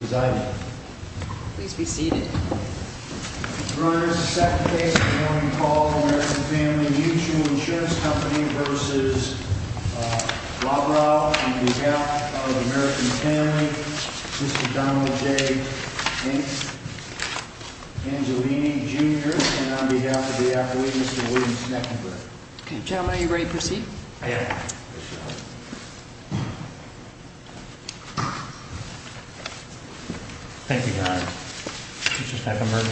Please be seated. Your Honor, this is the second case in which we call the American Family Mutual Insurance Company v. Lobrow, on behalf of the American Family, Mr. Donald J. Hicks, Angelini Jr., and on behalf of the athlete, Mr. William Schneckenberg. Okay, gentlemen, are you ready to proceed? I am. Thank you, Your Honor. Mr. Schneckenberg.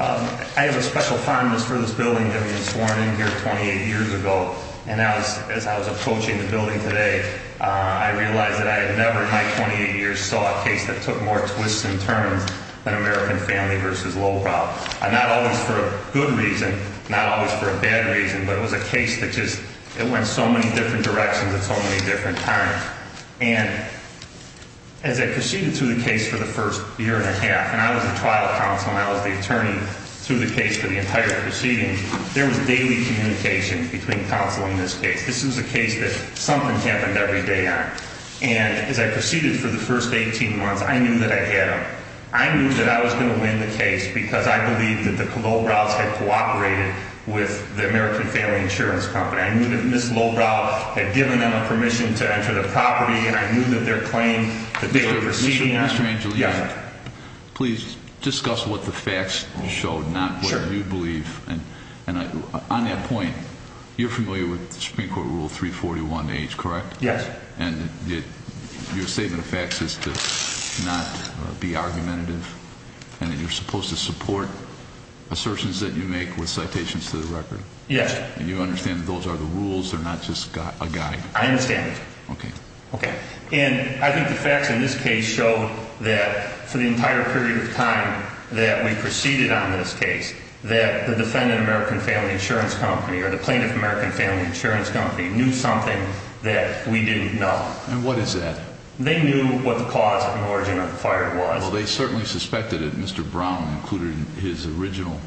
I have a special fondness for this building that we had sworn in here 28 years ago, and as I was approaching the building today, I realized that I had never in my 28 years saw a case that took more twists and turns than American Family v. Lobrow. Not always for a good reason, not always for a bad reason, but it was a case that just went so many different directions at so many different times. And as I proceeded through the case for the first year and a half, and I was the trial counsel and I was the attorney through the case for the entire proceeding, there was daily communication between counsel in this case. This was a case that something happened every day on. And as I proceeded for the first 18 months, I knew that I had him. I knew that I was going to win the case because I believed that the Lobrows had cooperated with the American Family Insurance Company. I knew that Ms. Lobrow had given them permission to enter the property, and I knew that their claim that they were proceeding on. Mr. Angelino, please discuss what the facts showed, not what you believe. And on that point, you're familiar with the Supreme Court Rule 341H, correct? Yes. And your statement of facts is to not be argumentative, and that you're supposed to support assertions that you make with citations to the record. Yes. And you understand that those are the rules, they're not just a guide. I understand. Okay. Okay. And I think the facts in this case show that for the entire period of time that we proceeded on this case, that the defendant, American Family Insurance Company, or the plaintiff, American Family Insurance Company, knew something that we didn't know. And what is that? They knew what the cause and origin of the fire was. Well, they certainly suspected it. Mr. Brown included in his original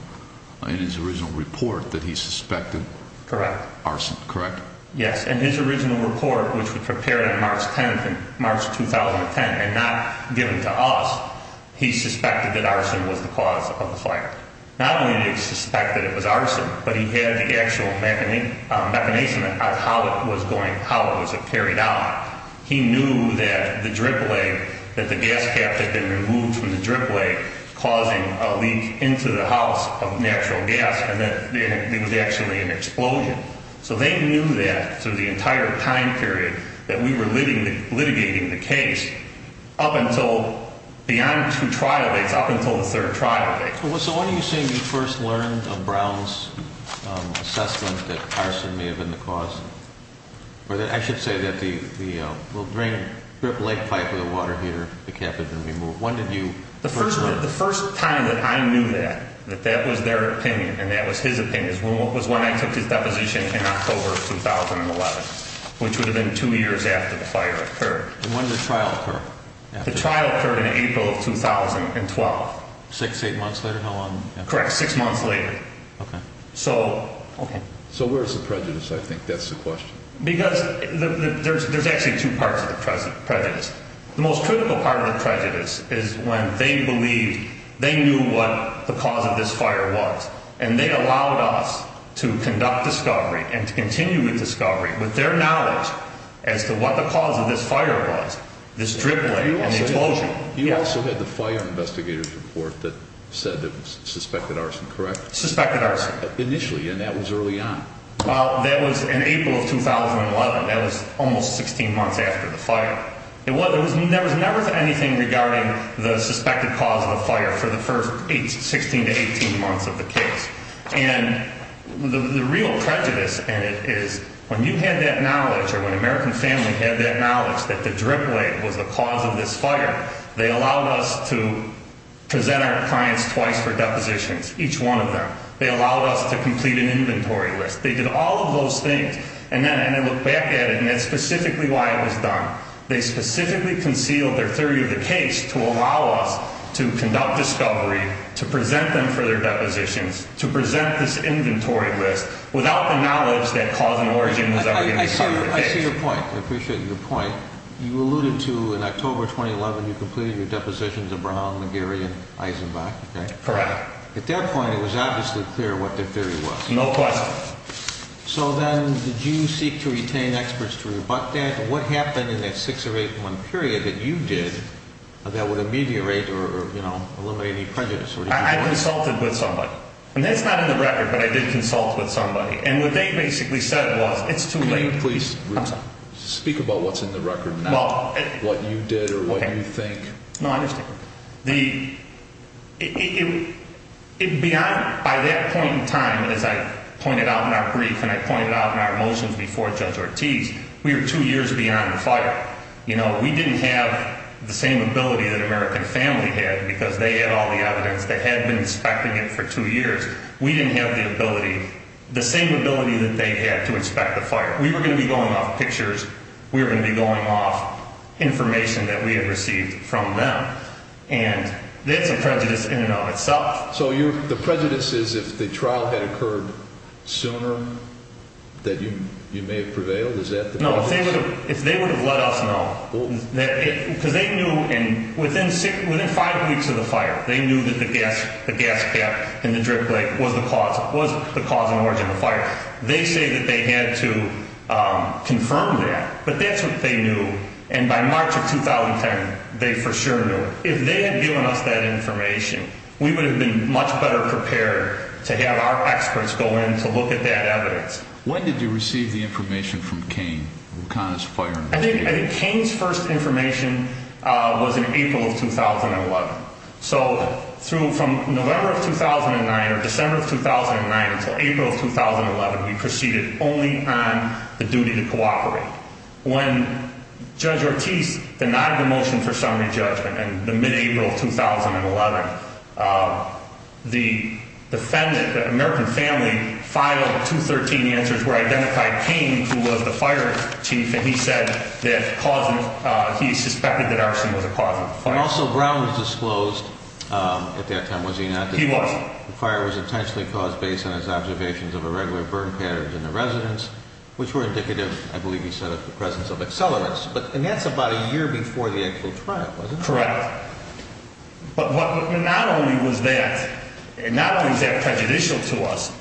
report that he suspected arson, correct? Correct. Yes. In his original report, which was prepared on March 10th in March 2010 and not given to us, he suspected that arson was the cause of the fire. Not only did he suspect that it was arson, but he had the actual machination of how it was going, how it was carried out. He knew that the drip leg, that the gas cap had been removed from the drip leg, causing a leak into the house of natural gas and that it was actually an explosion. So they knew that through the entire time period that we were litigating the case up until beyond two trial dates, up until the third trial date. So when are you saying you first learned of Brown's assessment that arson may have been the cause? I should say that the drip leg pipe with the water heater, the cap had been removed. When did you first learn? The first time that I knew that, that that was their opinion and that was his opinion, was when I took his deposition in October of 2011, which would have been two years after the fire occurred. When did the trial occur? The trial occurred in April of 2012. Six, eight months later? How long after? Correct, six months later. Okay. So where's the prejudice, I think? That's the question. Because there's actually two parts of the prejudice. The most critical part of the prejudice is when they believed they knew what the cause of this fire was and they allowed us to conduct discovery and to continue with discovery with their knowledge as to what the cause of this fire was, this drip leg and the explosion. You also had the fire investigator's report that said it was suspected arson, correct? Suspected arson. Initially, and that was early on. Well, that was in April of 2011. That was almost 16 months after the fire. There was never anything regarding the suspected cause of the fire for the first 16 to 18 months of the case. And the real prejudice in it is when you had that knowledge or when the American family had that knowledge that the drip leg was the cause of this fire, they allowed us to present our clients twice for depositions, each one of them. They allowed us to complete an inventory list. They did all of those things. And then I look back at it, and that's specifically why it was done. They specifically concealed their theory of the case to allow us to conduct discovery, to present them for their depositions, to present this inventory list without the knowledge that cause and origin was ever going to start the case. I see your point. I appreciate your point. You alluded to in October 2011 you completed your depositions in Brown, McGarry, and Eisenbach. Correct. At that point, it was obviously clear what their theory was. No question. So then did you seek to retain experts to rebut that? What happened in that 6 or 8 month period that you did that would ameliorate or eliminate any prejudice? I consulted with somebody. And that's not in the record, but I did consult with somebody. And what they basically said was it's too late. Can you please speak about what's in the record now, what you did or what you think? No, I understand. By that point in time, as I pointed out in our brief and I pointed out in our motions before Judge Ortiz, we were 2 years beyond the fire. We didn't have the same ability that American Family had because they had all the evidence. They had been inspecting it for 2 years. We didn't have the ability, the same ability that they had to inspect the fire. We were going to be going off pictures. We were going to be going off information that we had received from them. And that's a prejudice in and of itself. So the prejudice is if the trial had occurred sooner that you may have prevailed? Is that the prejudice? No. If they would have let us know, because they knew within 5 weeks of the fire, they knew that the gas gap in the drip lake was the cause and origin of the fire. They say that they had to confirm that. But that's what they knew. And by March of 2010, they for sure knew. If they had given us that information, we would have been much better prepared to have our experts go in to look at that evidence. When did you receive the information from Kane, Waukonas Fire and Rescue? I think Kane's first information was in April of 2011. So from November of 2009 or December of 2009 until April of 2011, we proceeded only on the duty to cooperate. When Judge Ortiz denied the motion for summary judgment in the mid-April of 2011, the American family filed 213 answers where identified Kane, who was the fire chief, and he said that he suspected that arson was a cause of the fire. Also, Brown was disclosed at that time, was he not? He was. The fire was intentionally caused based on his observations of irregular burn patterns in the residence, which were indicative, I believe he said, of the presence of accelerants. And that's about a year before the actual trial, wasn't it? Correct. But not only was that prejudicial to us,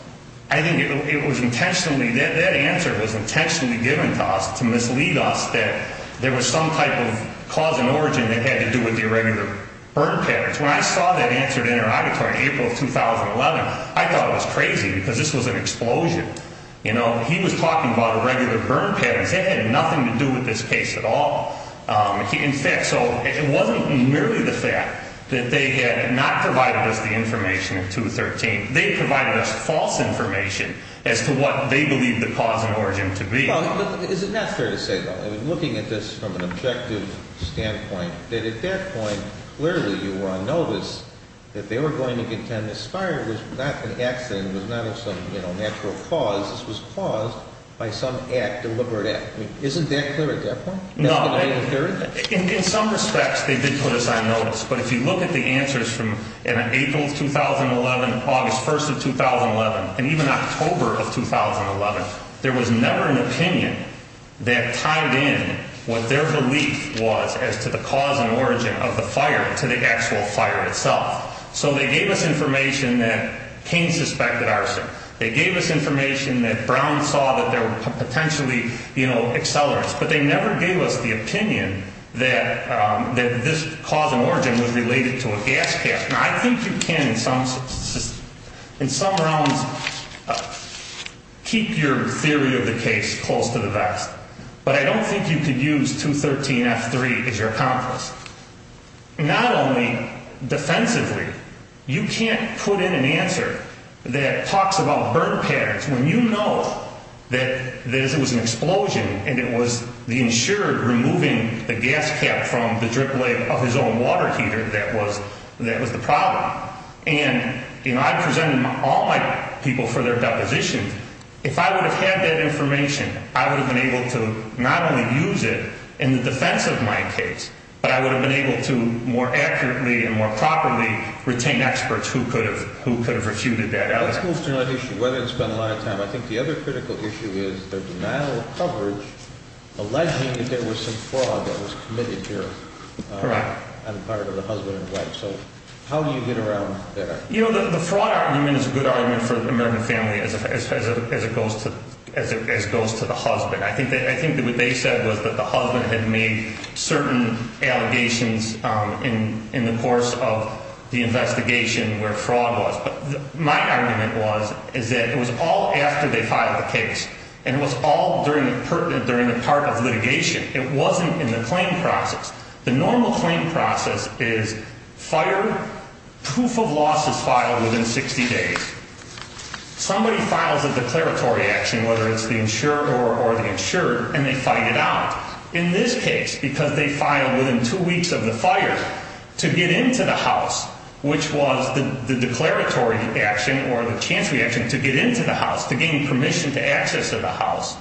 I think it was intentionally, that answer was intentionally given to us to mislead us that there was some type of cause and origin that had to do with the irregular burn patterns. When I saw that answer in our auditory in April of 2011, I thought it was crazy because this was an explosion. You know, he was talking about irregular burn patterns. It had nothing to do with this case at all. In fact, so it wasn't merely the fact that they had not provided us the information in 213. They provided us false information as to what they believed the cause and origin to be. Well, is it not fair to say, though, looking at this from an objective standpoint, that at that point, clearly you were on notice that they were going to contend this fire was not an accident, was not of some natural cause. This was caused by some act, deliberate act. Isn't that clear at that point? No. In some respects, they did put us on notice. But if you look at the answers from April of 2011, August 1st of 2011, and even October of 2011, there was never an opinion that tied in what their belief was as to the cause and origin of the fire to the actual fire itself. So they gave us information that Cain suspected arson. They gave us information that Brown saw that there were potentially, you know, accelerants. But they never gave us the opinion that this cause and origin was related to a gas gas. Now, I think you can in some realms keep your theory of the case close to the vest. But I don't think you could use 213F3 as your accomplice. Not only defensively, you can't put in an answer that talks about burn patterns when you know that this was an explosion and it was the insured removing the gas cap from the drip leg of his own water heater that was the problem. And, you know, I'm presenting all my people for their depositions. If I would have had that information, I would have been able to not only use it in the defense of my case, but I would have been able to more accurately and more properly retain experts who could have refuted that evidence. Let's move to another issue. I think the other critical issue is the denial of coverage alleging that there was some fraud that was committed here. Correct. And part of the husband and wife. So how do you get around that? You know, the fraud argument is a good argument for the American family as it goes to the husband. I think what they said was that the husband had made certain allegations in the course of the investigation where fraud was. My argument was is that it was all after they filed the case and was all during the pertinent during the part of litigation. It wasn't in the claim process. The normal claim process is fire proof of losses filed within 60 days. Somebody files a declaratory action, whether it's the insurer or the insured, and they find it out in this case because they filed within two weeks of the fire to get into the house, which was the declaratory action or the chance reaction to get into the house to gain permission to access to the house.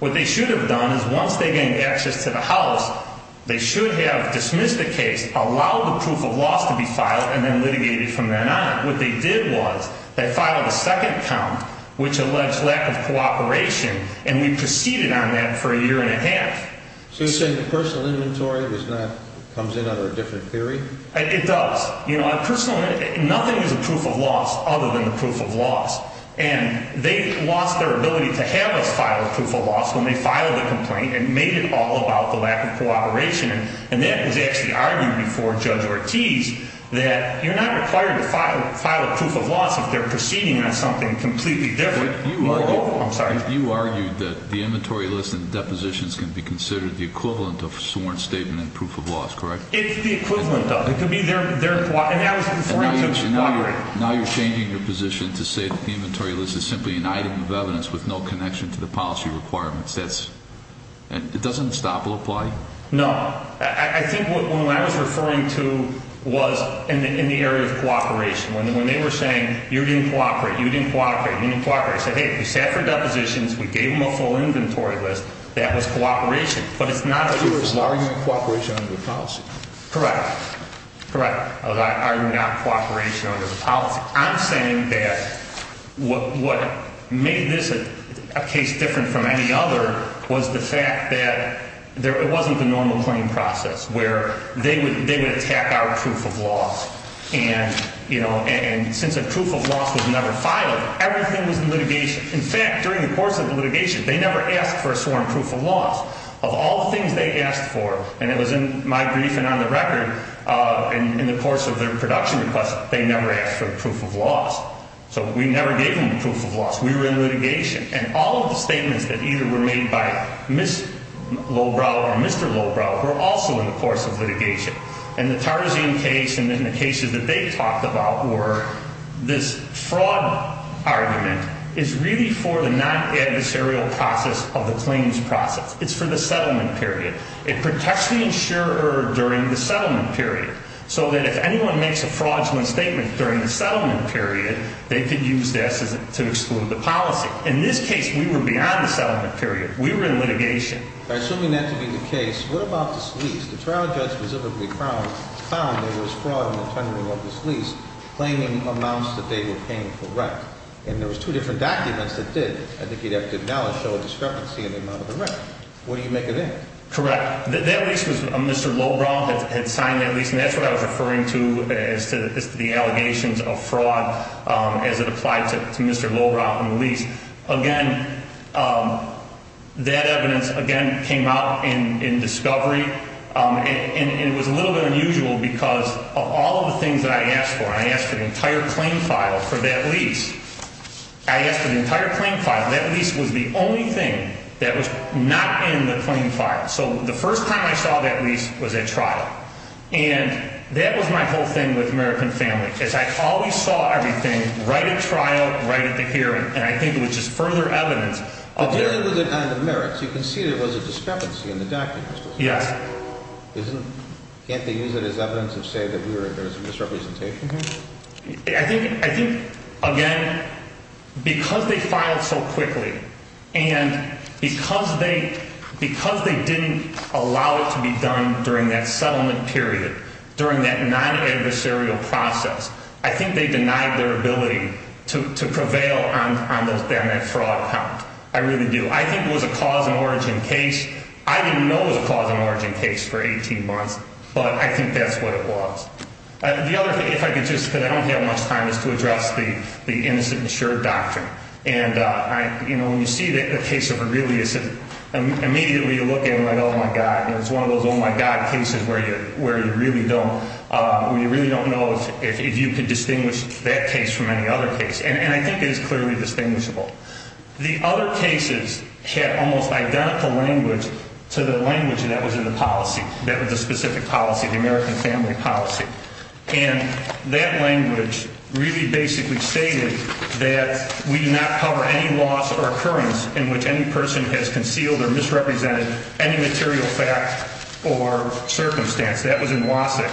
What they should have done is once they gain access to the house, they should have dismissed the case, allowed the proof of loss to be filed and then litigated from then on. What they did was they filed a second count, which alleged lack of cooperation. And we proceeded on that for a year and a half. So you're saying the personal inventory was not comes in under a different theory. It does. You know, I personally nothing is a proof of loss other than the proof of loss. And they lost their ability to have us file a proof of loss when they filed the complaint and made it all about the lack of cooperation. And that was actually argued before Judge Ortiz that you're not required to file a proof of loss if they're proceeding on something completely different. I'm sorry. You argued that the inventory list and depositions can be considered the equivalent of sworn statement and proof of loss, correct? It's the equivalent of it. It could be their. And I was referring to cooperation. Now you're changing your position to say that the inventory list is simply an item of evidence with no connection to the policy requirements. That's and it doesn't stop apply. No, I think what I was referring to was in the area of cooperation. When they were saying you didn't cooperate, you didn't cooperate, you didn't cooperate. I said, hey, we sat for depositions. We gave them a full inventory list. That was cooperation. But it's not a. It's an argument of cooperation under the policy. Correct. Correct. I was arguing about cooperation under the policy. I'm saying that what made this a case different from any other was the fact that there wasn't the normal claim process where they would attack our proof of loss. And, you know, and since a proof of loss was never filed, everything was in litigation. In fact, during the course of the litigation, they never asked for a sworn proof of loss of all the things they asked for. And it was in my brief and on the record in the course of their production request, they never asked for proof of loss. So we never gave them proof of loss. We were in litigation. And all of the statements that either were made by Miss Lowbrow or Mr. Lowbrow were also in the course of litigation. And the Tarzine case and then the cases that they talked about were this fraud argument is really for the non-adversarial process of the claims process. It's for the settlement period. It protects the insurer during the settlement period so that if anyone makes a fraudulent statement during the settlement period, they could use this to exclude the policy. In this case, we were beyond the settlement period. We were in litigation. Assuming that to be the case, what about this lease? The trial judge specifically found there was fraud in the tendering of this lease, claiming amounts that they were paying for rent. And there was two different documents that did, I think you'd have to acknowledge, show a discrepancy in the amount of the rent. What do you make of that? Correct. That lease was Mr. Lowbrow that had signed that lease, and that's what I was referring to as to the allegations of fraud as it applied to Mr. Lowbrow and the lease. Again, that evidence, again, came out in discovery, and it was a little bit unusual because of all of the things that I asked for. I asked for the entire claim file for that lease. I asked for the entire claim file. That lease was the only thing that was not in the claim file. So the first time I saw that lease was at trial. And that was my whole thing with American Family is I always saw everything right at trial, right at the hearing. And I think it was just further evidence. But then it was on the merits. You can see there was a discrepancy in the documents. Yes. Can't they use it as evidence to say that there was a misrepresentation? I think, again, because they filed so quickly and because they didn't allow it to be done during that settlement period, during that non-adversarial process, I think they denied their ability to prevail on that fraud count. I really do. I think it was a cause-and-origin case. I didn't know it was a cause-and-origin case for 18 months, but I think that's what it was. The other thing, if I could just, because I don't have much time, is to address the innocent-insured doctrine. And, you know, when you see the case of Aurelius, immediately you look at him like, oh, my God. It's one of those, oh, my God, cases where you really don't know if you can distinguish that case from any other case. And I think it is clearly distinguishable. The other cases had almost identical language to the language that was in the policy, that was the specific policy, the American family policy. And that language really basically stated that we do not cover any loss or occurrence in which any person has concealed or misrepresented any material fact or circumstance. That was in Wasik.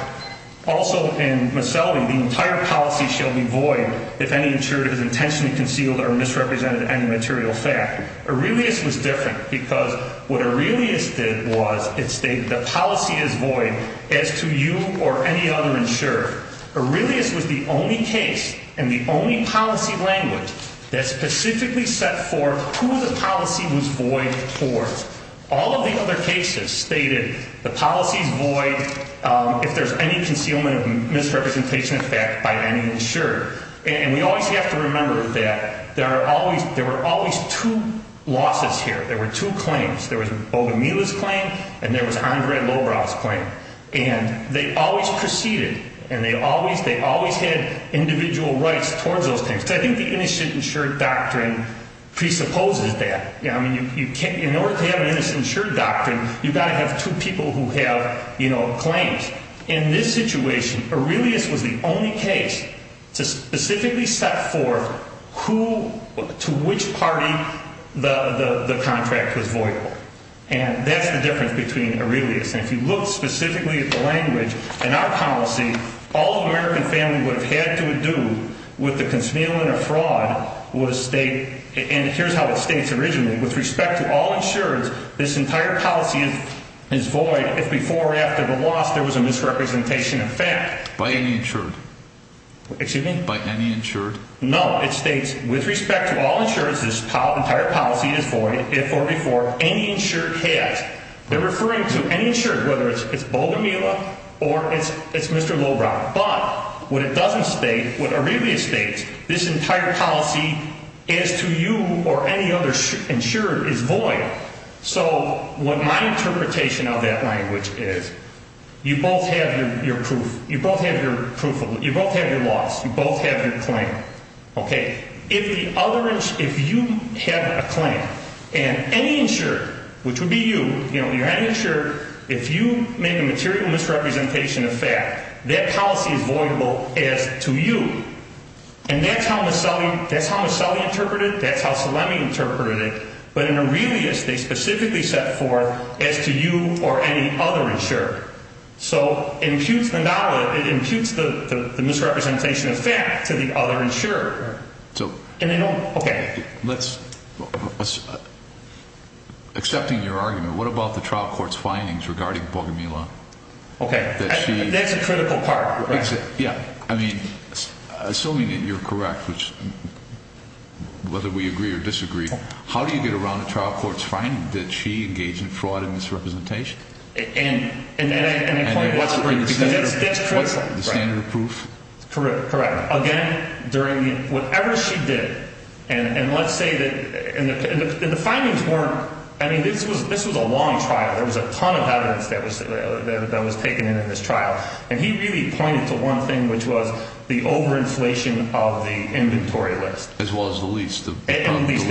Also, in Maselli, the entire policy shall be void if any insured has intentionally concealed or misrepresented any material fact. Aurelius was different because what Aurelius did was it stated the policy is void as to you or any other insured. Aurelius was the only case and the only policy language that specifically set forth who the policy was void for. All of the other cases stated the policy is void if there's any concealment of misrepresentation of fact by any insured. And we always have to remember that there were always two losses here. There were two claims. There was Bogomila's claim and there was Andrade-Lobra's claim. And they always proceeded and they always had individual rights towards those things. So I think the Innocent Insured Doctrine presupposes that. In order to have an Innocent Insured Doctrine, you've got to have two people who have claims. In this situation, Aurelius was the only case to specifically set forth to which party the contract was void. And that's the difference between Aurelius. And if you look specifically at the language in our policy, all the American family would have had to do with the concealment of fraud was state And here's how it states originally. With respect to all insureds, this entire policy is void if before or after the loss there was a misrepresentation of fact. By any insured? Excuse me? By any insured? No, it states with respect to all insureds, this entire policy is void if or before any insured has. They're referring to any insured, whether it's Bogomila or it's Mr. Lobra. But what it doesn't state, what Aurelius states, this entire policy as to you or any other insured is void. So what my interpretation of that language is, you both have your proof. You both have your loss. You both have your claim. If you have a claim, and any insured, which would be you, you're any insured, if you make a material misrepresentation of fact, that policy is voidable as to you. And that's how Masselli interpreted it. That's how Salemi interpreted it. But in Aurelius, they specifically set forth as to you or any other insured. So it imputes the misrepresentation of fact to the other insured. And they don't, okay. Let's, accepting your argument, what about the trial court's findings regarding Bogomila? Okay. That's a critical part. Yeah. I mean, assuming that you're correct, whether we agree or disagree, how do you get around a trial court's finding that she engaged in fraud and misrepresentation? And the point was, because that's critical. The standard of proof? Correct. Again, during the, whatever she did, and let's say that, and the findings weren't, I mean, this was a long trial. There was a ton of evidence that was taken in in this trial. And he really pointed to one thing, which was the overinflation of the inventory list. As well as the lease, the lease.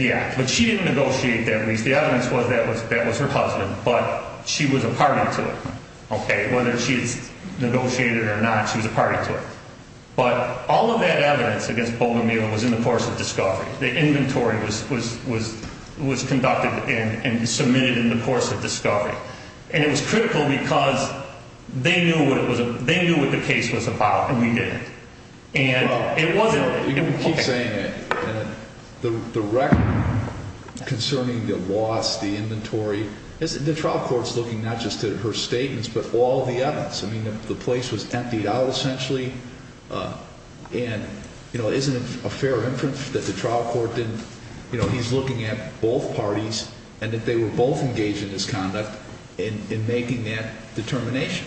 Yeah. But she didn't negotiate that lease. The evidence was that was her husband, but she was a party to it. Okay. Whether she had negotiated it or not, she was a party to it. But all of that evidence against Bogomila was in the course of discovery. The inventory was conducted and submitted in the course of discovery. And it was critical because they knew what the case was about, and we didn't. Well, you can keep saying that. The record concerning the loss, the inventory, the trial court's looking not just at her statements, but all the evidence. I mean, the place was emptied out, essentially. And, you know, isn't it a fair inference that the trial court didn't, you know, he's looking at both parties and that they were both engaged in this conduct in making that determination?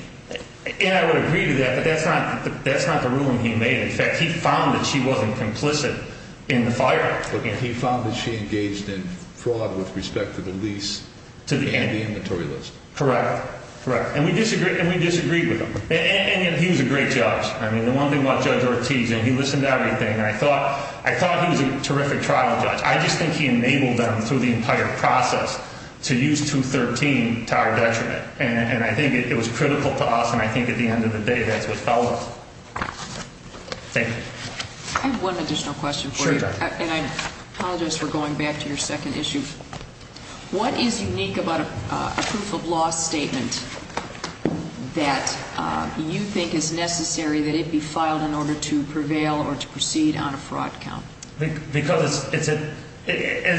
Yeah, I would agree to that, but that's not the ruling he made. In fact, he found that she wasn't complicit in the fire. Okay. He found that she engaged in fraud with respect to the lease and the inventory list. Correct. Correct. And we disagreed with him. And he was a great judge. I mean, the one thing about Judge Ortiz, and he listened to everything, and I thought he was a terrific trial judge. I just think he enabled them through the entire process to use 213 to our detriment. And I think it was critical to us, and I think at the end of the day, that's what fell on us. Thank you. I have one additional question for you. Sure, Judge. And I apologize for going back to your second issue. What is unique about a proof of loss statement that you think is necessary that it be filed in order to prevail or to proceed on a fraud count? Because as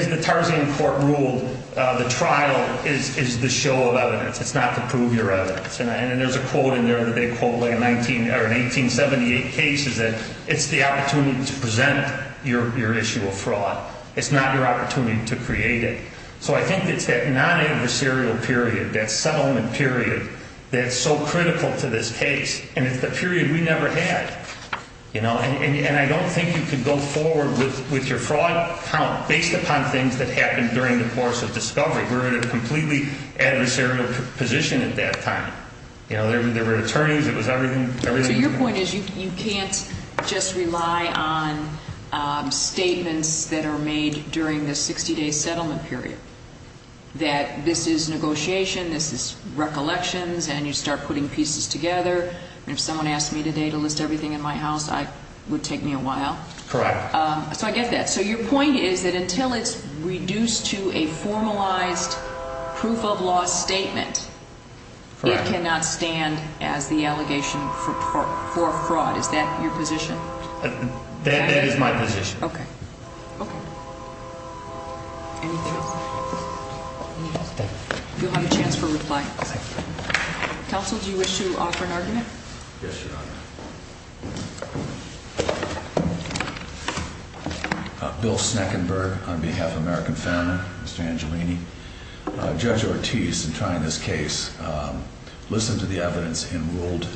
the Tarzan court ruled, the trial is the show of evidence. It's not the prove your evidence. And there's a quote in there that they quote, like an 1878 case, is that it's the opportunity to present your issue of fraud. It's not your opportunity to create it. So I think it's that non-adversarial period, that settlement period, that's so critical to this case, and it's the period we never had. And I don't think you could go forward with your fraud count based upon things that happened during the course of discovery. We were in a completely adversarial position at that time. There were attorneys. It was everything. So your point is you can't just rely on statements that are made during the 60-day settlement period, that this is negotiation, this is recollections, and you start putting pieces together. If someone asked me today to list everything in my house, it would take me a while. Correct. So I get that. So your point is that until it's reduced to a formalized proof of law statement, it cannot stand as the allegation for fraud. Is that your position? That is my position. Okay. Okay. Anything else? Thank you. You'll have a chance for reply. Thank you. Counsel, do you wish to offer an argument? Yes, Your Honor. Bill Sneckenberg on behalf of American Founder, Mr. Angelini. Judge Ortiz, in trying this case, listened to the evidence and ruled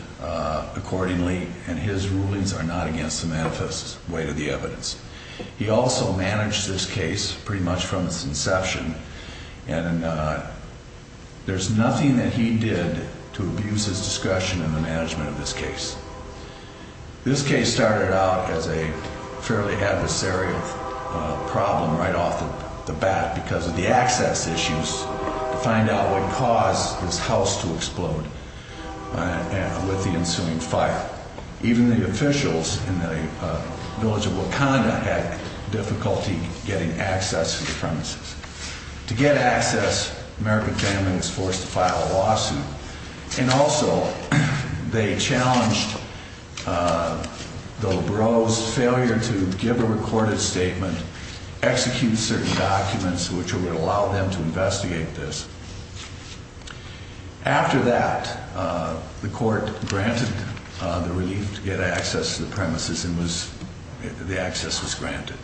accordingly, and his rulings are not against the manifest way to the evidence. He also managed this case pretty much from its inception, and there's nothing that he did to abuse his discretion in the management of this case. This case started out as a fairly adversarial problem right off the bat because of the access issues to find out what caused this house to explode with the ensuing fire. Even the officials in the village of Wakanda had difficulty getting access to the premises. To get access, American Founder was forced to file a lawsuit, and also they challenged the Labrose failure to give a recorded statement, execute certain documents which would allow them to investigate this. After that, the court granted the relief to get access to the premises, and the access was granted.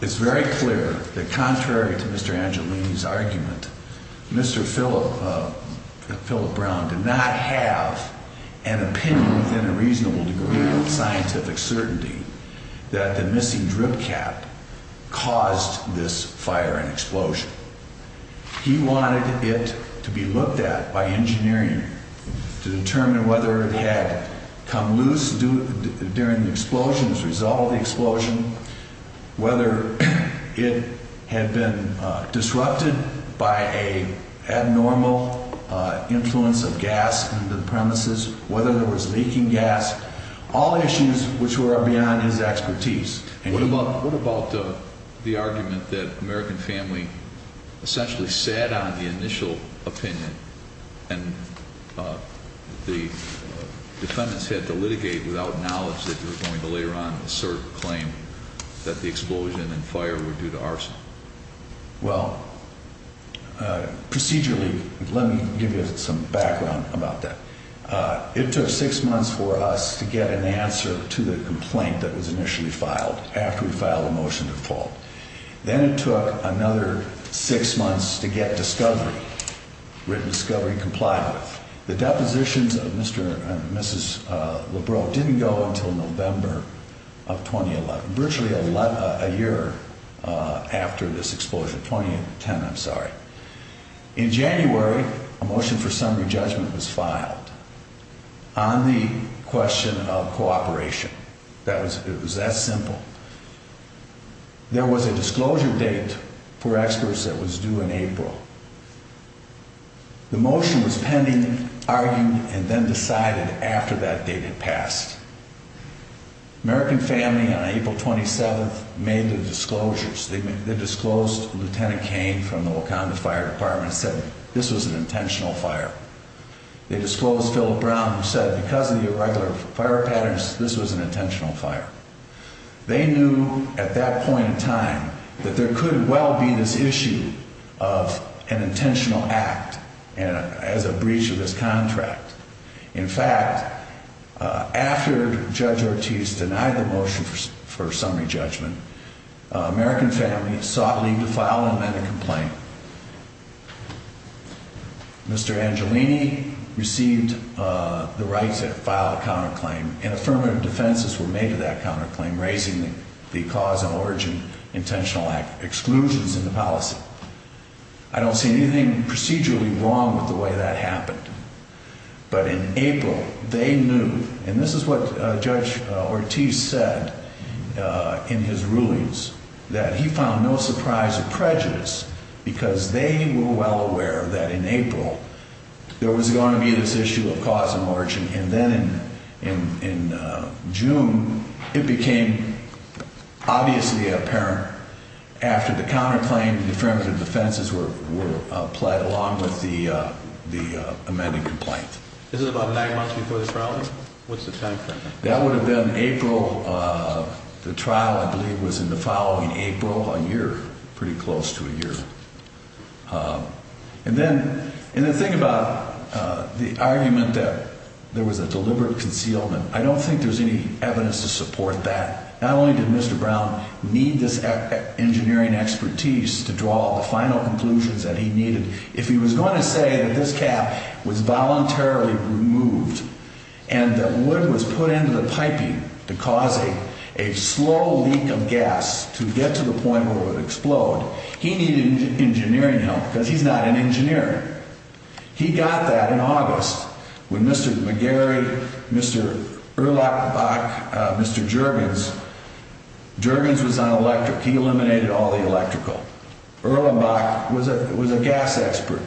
It's very clear that contrary to Mr. Angelini's argument, Mr. Philip Brown did not have an opinion within a reasonable degree of scientific certainty that the missing drip cap caused this fire and explosion. He wanted it to be looked at by engineering to determine whether it had come loose during the explosion, as a result of the explosion, whether it had been disrupted by an abnormal influence of gas into the premises, whether there was leaking gas, all issues which were beyond his expertise. What about the argument that American Family essentially sat on the initial opinion, and the defendants had to litigate without knowledge that they were going to later on assert a claim that the explosion and fire were due to arson? Well, procedurally, let me give you some background about that. It took six months for us to get an answer to the complaint that was initially filed, after we filed a motion to default. Then it took another six months to get discovery, written discovery, complied with. The depositions of Mr. and Mrs. Lebrow didn't go until November of 2011, virtually a year after this explosion. 2010, I'm sorry. In January, a motion for summary judgment was filed on the question of cooperation. It was that simple. There was a disclosure date for experts that was due in April. The motion was pending, argued, and then decided after that date had passed. American Family, on April 27th, made the disclosures. They disclosed Lt. Cain from the Wakanda Fire Department said this was an intentional fire. They disclosed Philip Brown, who said because of the irregular fire patterns, this was an intentional fire. They knew at that point in time that there could well be this issue of an intentional act as a breach of this contract. In fact, after Judge Ortiz denied the motion for summary judgment, American Family sought leave to file and amend the complaint. Mr. Angelini received the rights to file a counterclaim, and affirmative defenses were made to that counterclaim, raising the cause and origin of intentional exclusions in the policy. I don't see anything procedurally wrong with the way that happened. But in April, they knew, and this is what Judge Ortiz said in his rulings, that he found no surprise or prejudice because they were well aware that in April, there was going to be this issue of cause and origin. And then in June, it became obviously apparent after the counterclaim, the affirmative defenses were applied along with the amended complaint. This is about nine months before the trial? What's the time frame? That would have been April. The trial, I believe, was in the following April, a year, pretty close to a year. And then the thing about the argument that there was a deliberate concealment, I don't think there's any evidence to support that. Not only did Mr. Brown need this engineering expertise to draw the final conclusions that he needed, if he was going to say that this cap was voluntarily removed and that wood was put into the piping to cause a slow leak of gas to get to the point where it would explode, he needed engineering help because he's not an engineer. He got that in August when Mr. McGarry, Mr. Erlenbach, Mr. Juergens, Juergens was on electric, he eliminated all the electrical. Erlenbach was a gas expert.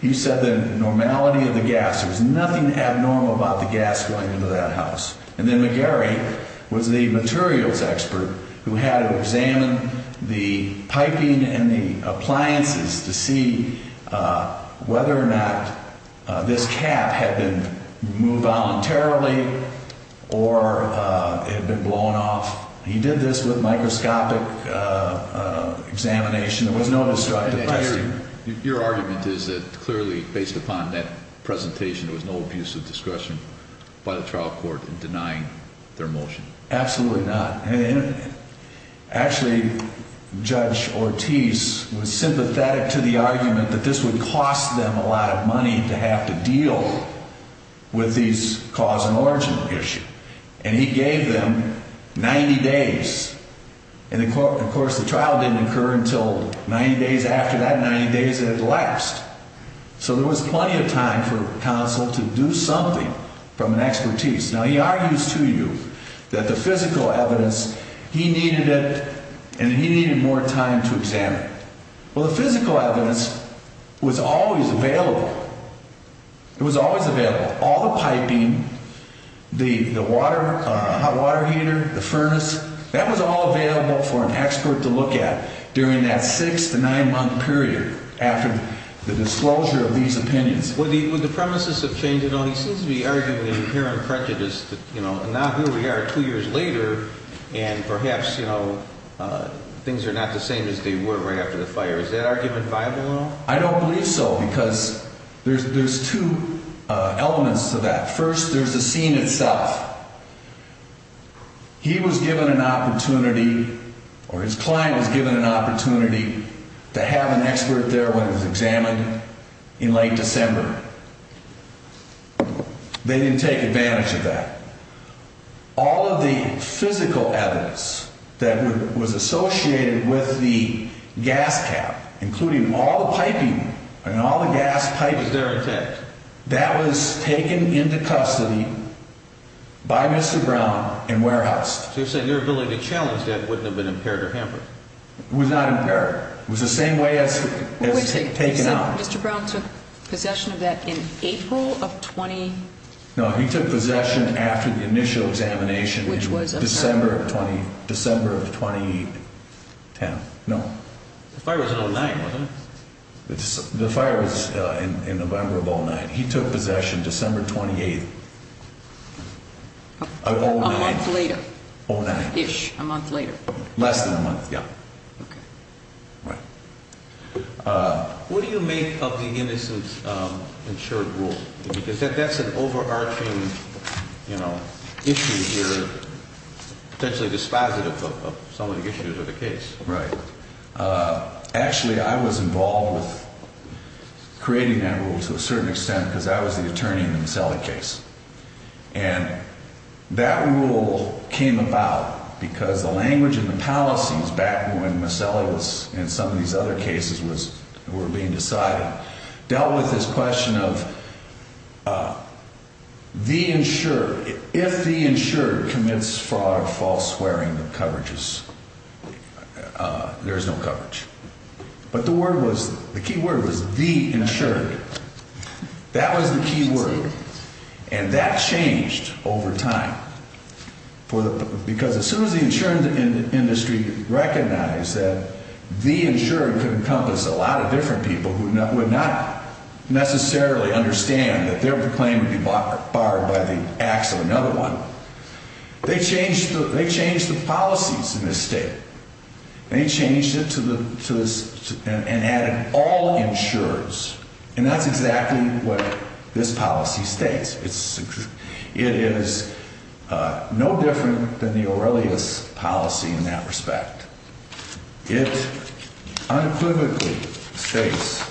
He said the normality of the gas, there was nothing abnormal about the gas going into that house. And then McGarry was the materials expert who had to examine the piping and the appliances to see whether or not this cap had been moved voluntarily or had been blown off. He did this with microscopic examination. There was no destructive residue. Your argument is that clearly, based upon that presentation, there was no abusive discretion by the trial court in denying their motion. Absolutely not. Actually, Judge Ortiz was sympathetic to the argument that this would cost them a lot of money to have to deal with these cause and origin issues. And he gave them 90 days. And, of course, the trial didn't occur until 90 days after that, and 90 days had elapsed. So there was plenty of time for counsel to do something from an expertise. Now, he argues to you that the physical evidence, he needed it and he needed more time to examine it. Well, the physical evidence was always available. It was always available. All the piping, the water, hot water heater, the furnace, that was all available for an expert to look at during that six to nine month period after the disclosure of these opinions. Would the premises have changed at all? He seems to be arguing that you're hearing prejudice that, you know, now here we are two years later and perhaps, you know, things are not the same as they were right after the fire. Is that argument viable at all? I don't believe so because there's two elements to that. First, there's the scene itself. He was given an opportunity or his client was given an opportunity to have an expert there when it was examined in late December. They didn't take advantage of that. All of the physical evidence that was associated with the gas cap, including all the piping and all the gas pipes, that was taken into custody by Mr. Brown and warehoused. So you're saying your ability to challenge that wouldn't have been impaired or hampered? It was not impaired. It was the same way as taken out. Mr. Brown took possession of that in April of 20... No, he took possession after the initial examination in December of 2010. No. The fire was in 09, wasn't it? The fire was in November of 09. He took possession December 28th of 09. A month later. 09-ish. A month later. Less than a month, yeah. Okay. Right. What do you make of the innocent insured rule? Because that's an overarching, you know, issue here, potentially dispositive of some of the issues of the case. Right. Actually, I was involved with creating that rule to a certain extent because I was the attorney in the Maselli case. And that rule came about because the language and the policies back when Maselli was in some of these other cases were being decided, dealt with this question of the insured. If the insured commits fraud, false swearing, there's no coverage. But the key word was the insured. That was the key word. And that changed over time because as soon as the insurance industry recognized that the insured could encompass a lot of different people who would not necessarily understand that their claim would be barred by the acts of another one, they changed the policies in this state. They changed it and added all insurers. And that's exactly what this policy states. It is no different than the Aurelius policy in that respect. It unequivocally states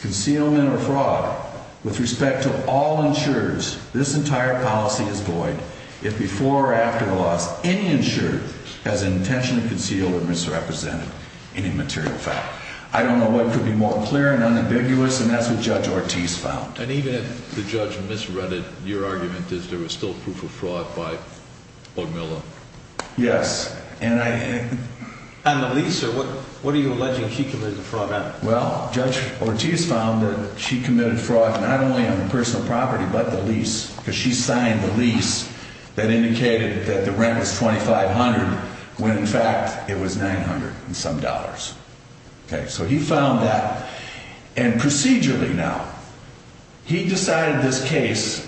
concealment or fraud with respect to all insurers. This entire policy is void if before or after the loss, any insured has an intention to conceal or misrepresent any material fact. I don't know what could be more clear and unambiguous, and that's what Judge Ortiz found. And even if the judge misread it, your argument is there was still proof of fraud by Borgmiller. Yes. On the lease, sir, what are you alleging he committed the fraud on? Well, Judge Ortiz found that she committed fraud not only on the personal property but the lease, because she signed the lease that indicated that the rent was $2,500 when in fact it was $900 and some dollars. Okay, so he found that. And procedurally now, he decided this case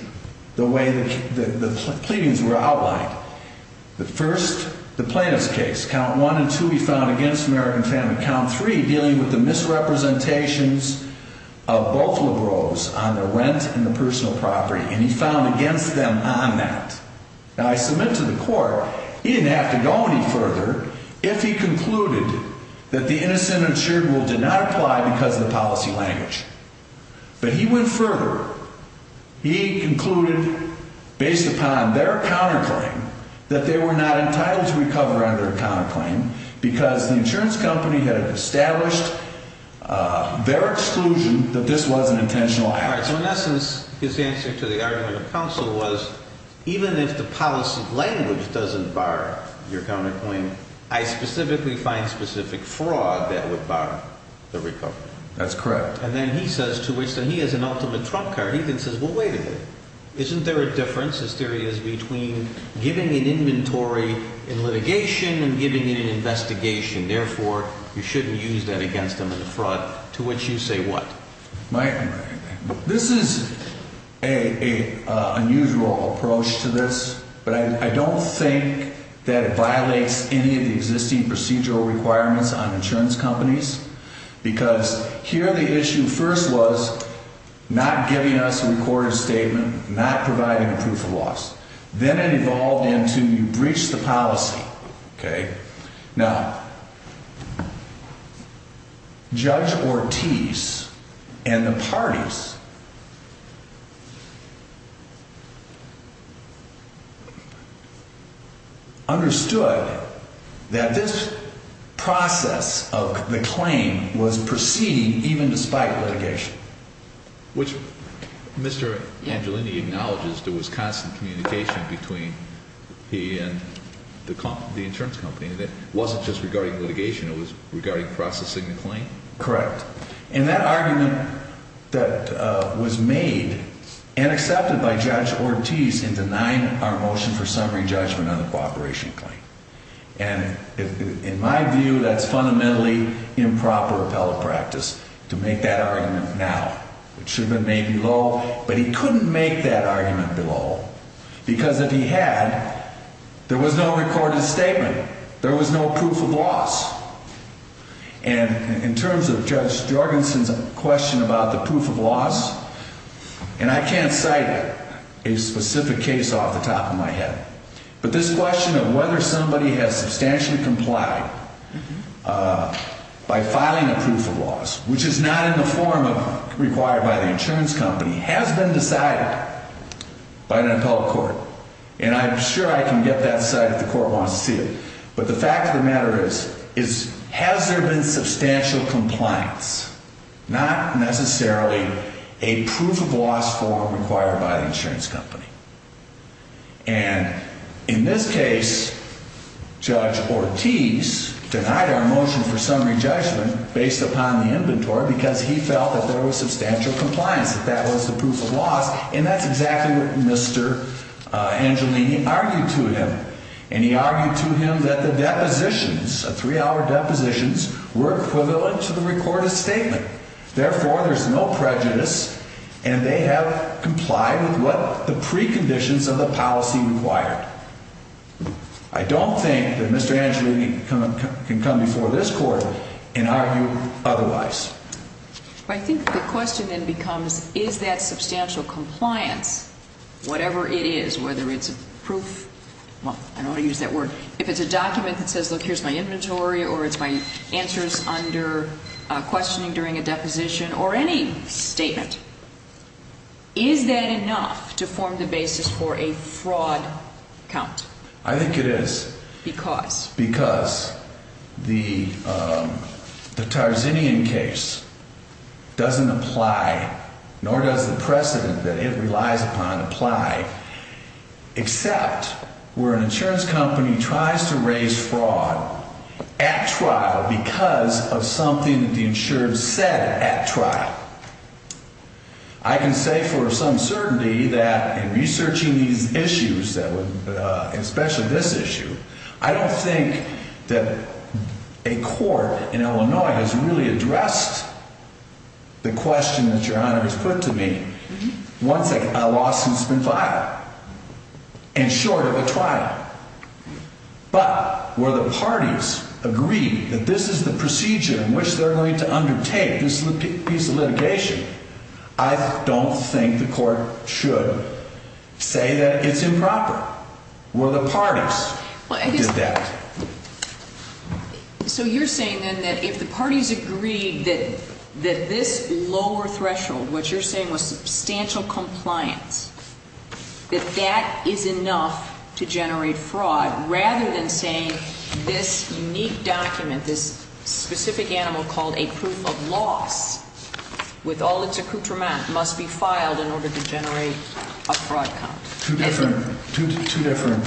the way that the pleadings were outlined. The first, the plaintiff's case. Count one and two he found against American family. Count three, dealing with the misrepresentations of both LaGroves on the rent and the personal property. And he found against them on that. Now, I submit to the court he didn't have to go any further if he concluded that the innocent insured rule did not apply because of the policy language. But he went further. He concluded based upon their counterclaim that they were not entitled to recover under a counterclaim because the insurance company had established their exclusion that this was an intentional act. All right, so in essence, his answer to the argument of counsel was even if the policy language doesn't bar your counterclaim, I specifically find specific fraud that would bar the recovery. That's correct. And then he says to which then he has an ultimate trump card. He then says, well, wait a minute. Isn't there a difference, his theory is, between giving an inventory in litigation and giving it in investigation? Therefore, you shouldn't use that against them in fraud. To which you say what? This is an unusual approach to this. But I don't think that it violates any of the existing procedural requirements on insurance companies. Because here the issue first was not giving us a recorded statement, not providing a proof of loss. Then it evolved into you breach the policy. Now, Judge Ortiz and the parties understood that this process of the claim was proceeding even despite litigation. Which Mr. Angelini acknowledges there was constant communication between he and the insurance company that wasn't just regarding litigation. It was regarding processing the claim. Correct. And that argument that was made and accepted by Judge Ortiz in denying our motion for summary judgment on the cooperation claim. And in my view, that's fundamentally improper appellate practice to make that argument now. It should have been made below. But he couldn't make that argument below. Because if he had, there was no recorded statement. There was no proof of loss. And in terms of Judge Jorgensen's question about the proof of loss, and I can't cite a specific case off the top of my head. But this question of whether somebody has substantially complied by filing a proof of loss, which is not in the form required by the insurance company, has been decided by an appellate court. And I'm sure I can get that side if the court wants to see it. But the fact of the matter is, has there been substantial compliance? Not necessarily a proof of loss form required by the insurance company. And in this case, Judge Ortiz denied our motion for summary judgment based upon the inventory because he felt that there was substantial compliance, that that was the proof of loss. And that's exactly what Mr. Angelini argued to him. And he argued to him that the depositions, the three-hour depositions, were equivalent to the recorded statement. Therefore, there's no prejudice, and they have complied with what the preconditions of the policy required. I don't think that Mr. Angelini can come before this court and argue otherwise. I think the question then becomes, is that substantial compliance, whatever it is, whether it's a proof, well, I don't want to use that word. If it's a document that says, look, here's my inventory or it's my answers under questioning during a deposition or any statement, is that enough to form the basis for a fraud count? Because? Because the Tarzanian case doesn't apply, nor does the precedent that it relies upon apply, except where an insurance company tries to raise fraud at trial because of something that the insured said at trial. I can say for some certainty that in researching these issues, especially this issue, I don't think that a court in Illinois has really addressed the question that Your Honor has put to me once a lawsuit's been filed and short of a trial. But were the parties agreed that this is the procedure in which they're going to undertake this piece of litigation, I don't think the court should say that it's improper. Were the parties that did that? So you're saying then that if the parties agreed that this lower threshold, what you're saying was substantial compliance, that that is enough to generate fraud, rather than saying this unique document, this specific animal called a proof of loss, with all its accoutrement, must be filed in order to generate a fraud count? Two different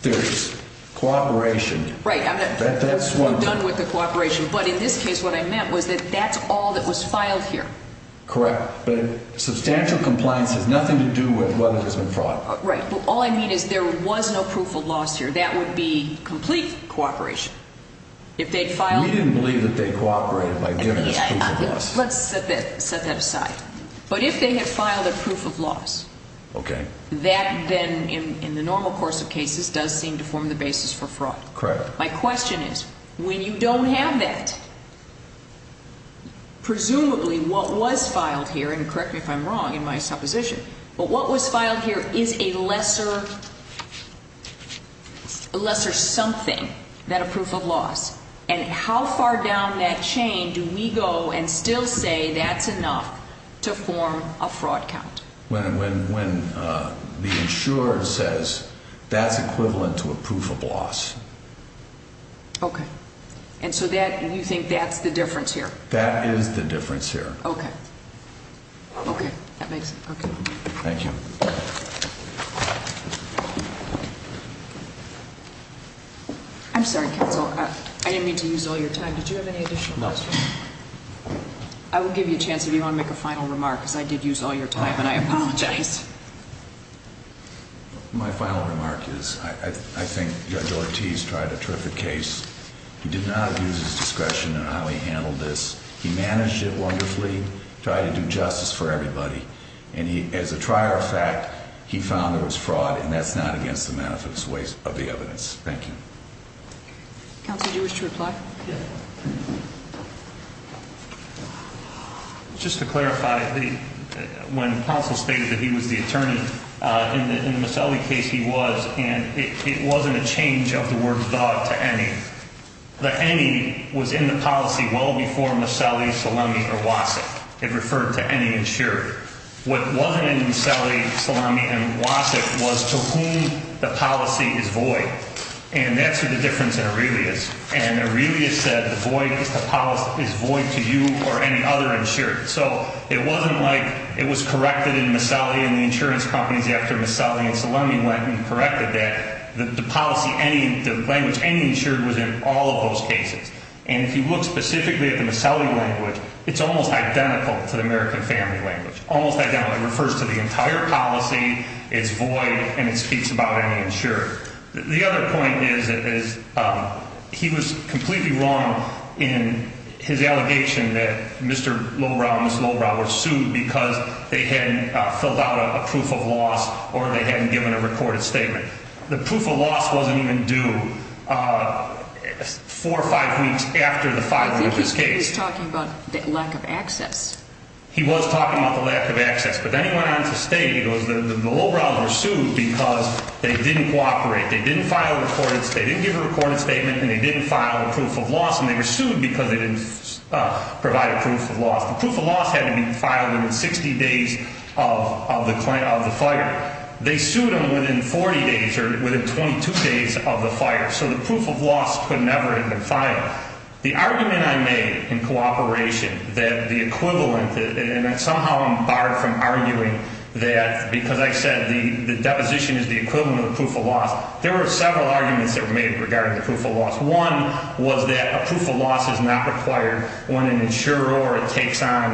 theories. Cooperation. Right. That's what... I'm done with the cooperation. But in this case, what I meant was that that's all that was filed here. Correct. But substantial compliance has nothing to do with whether there's been fraud. Right. But all I mean is there was no proof of loss here. That would be complete cooperation. If they'd filed... We didn't believe that they cooperated by giving us proof of loss. Let's set that aside. But if they had filed a proof of loss... Okay. That then, in the normal course of cases, does seem to form the basis for fraud. Correct. My question is, when you don't have that, presumably what was filed here, and correct me if I'm wrong in my supposition, but what was filed here is a lesser something than a proof of loss. And how far down that chain do we go and still say that's enough to form a fraud count? When the insurer says that's equivalent to a proof of loss. Okay. And so you think that's the difference here? That is the difference here. Okay. Okay. That makes sense. Okay. Thank you. I'm sorry, counsel. I didn't mean to use all your time. Did you have any additional questions? No. I will give you a chance if you want to make a final remark, because I did use all your time, and I apologize. My final remark is I think Judge Ortiz tried a terrific case. He did not abuse his discretion in how he handled this. He managed it wonderfully, tried to do justice for everybody. And as a trier of fact, he found there was fraud, and that's not against the benefits of the evidence. Thank you. Counsel, do you wish to reply? Yes. Just to clarify, when counsel stated that he was the attorney, in the Maselli case he was, and it wasn't a change of the word thought to any. The any was in the policy well before Maselli, Salami, or Wasik. It referred to any insurer. What wasn't in Maselli, Salami, and Wasik was to whom the policy is void. And that's where the difference in Aurelius. And Aurelius said the policy is void to you or any other insurer. So it wasn't like it was corrected in Maselli and the insurance companies after Maselli and Salami went and corrected that. The language any insured was in all of those cases. And if you look specifically at the Maselli language, it's almost identical to the American family language, almost identical. It refers to the entire policy. It's void, and it speaks about any insurer. The other point is that he was completely wrong in his allegation that Mr. Lowbrow and Ms. Lowbrow were sued because they hadn't filled out a proof of loss or they hadn't given a recorded statement. The proof of loss wasn't even due four or five weeks after the filing of this case. I think he was talking about the lack of access. He was talking about the lack of access. But then he went on to state it was the Lowbrows were sued because they didn't cooperate. They didn't file a recorded statement. They didn't give a recorded statement. And they didn't file a proof of loss. And they were sued because they didn't provide a proof of loss. The proof of loss had to be filed within 60 days of the filing. They sued them within 40 days or within 22 days of the filing. So the proof of loss could never have been filed. But the argument I made in cooperation that the equivalent, and somehow I'm barred from arguing that because I said the deposition is the equivalent of the proof of loss, there were several arguments that were made regarding the proof of loss. One was that a proof of loss is not required when an insurer takes on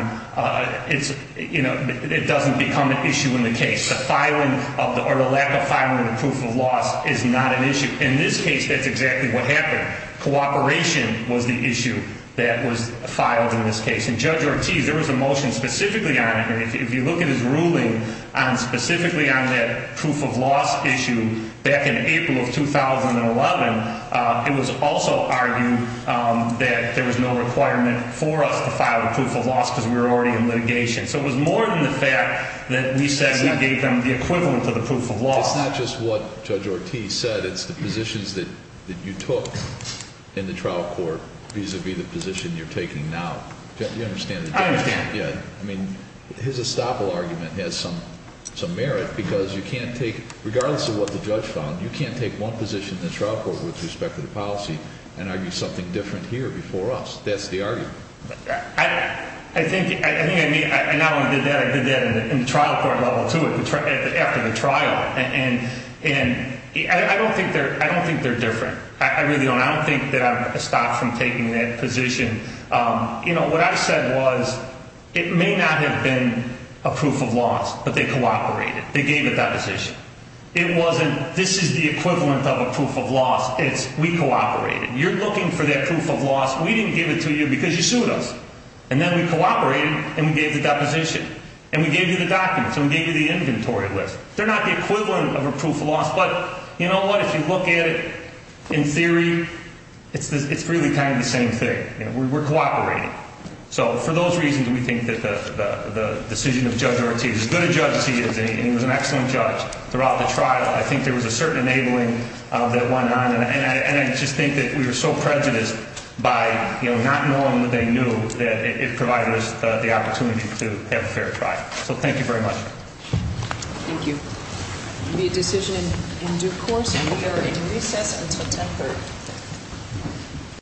its, you know, it doesn't become an issue in the case. The filing or the lack of filing of the proof of loss is not an issue. In this case, that's exactly what happened. Cooperation was the issue that was filed in this case. And Judge Ortiz, there was a motion specifically on it. If you look at his ruling on specifically on that proof of loss issue back in April of 2011, it was also argued that there was no requirement for us to file a proof of loss because we were already in litigation. So it was more than the fact that we said we gave them the equivalent of the proof of loss. It's not just what Judge Ortiz said. It's the positions that you took in the trial court vis-a-vis the position you're taking now. Do you understand? I understand. Yeah. I mean, his estoppel argument has some merit because you can't take, regardless of what the judge found, you can't take one position in the trial court with respect to the policy and argue something different here before us. That's the argument. I think I mean, and I did that in the trial court level, too, after the trial. And I don't think they're different. I really don't. I don't think that I've stopped from taking that position. You know, what I said was it may not have been a proof of loss, but they cooperated. They gave it that position. It wasn't this is the equivalent of a proof of loss. It's we cooperated. You're looking for that proof of loss. We didn't give it to you because you sued us. And then we cooperated and we gave the deposition. And we gave you the documents and we gave you the inventory list. They're not the equivalent of a proof of loss, but you know what? If you look at it in theory, it's really kind of the same thing. We're cooperating. So for those reasons, we think that the decision of Judge Ortiz, as good a judge he is, and he was an excellent judge throughout the trial, I think there was a certain enabling that went on. And I just think that we were so prejudiced by not knowing that they knew that it provided us the opportunity to have a fair trial. So thank you very much. Thank you. The decision in due course. We are in recess until 10th.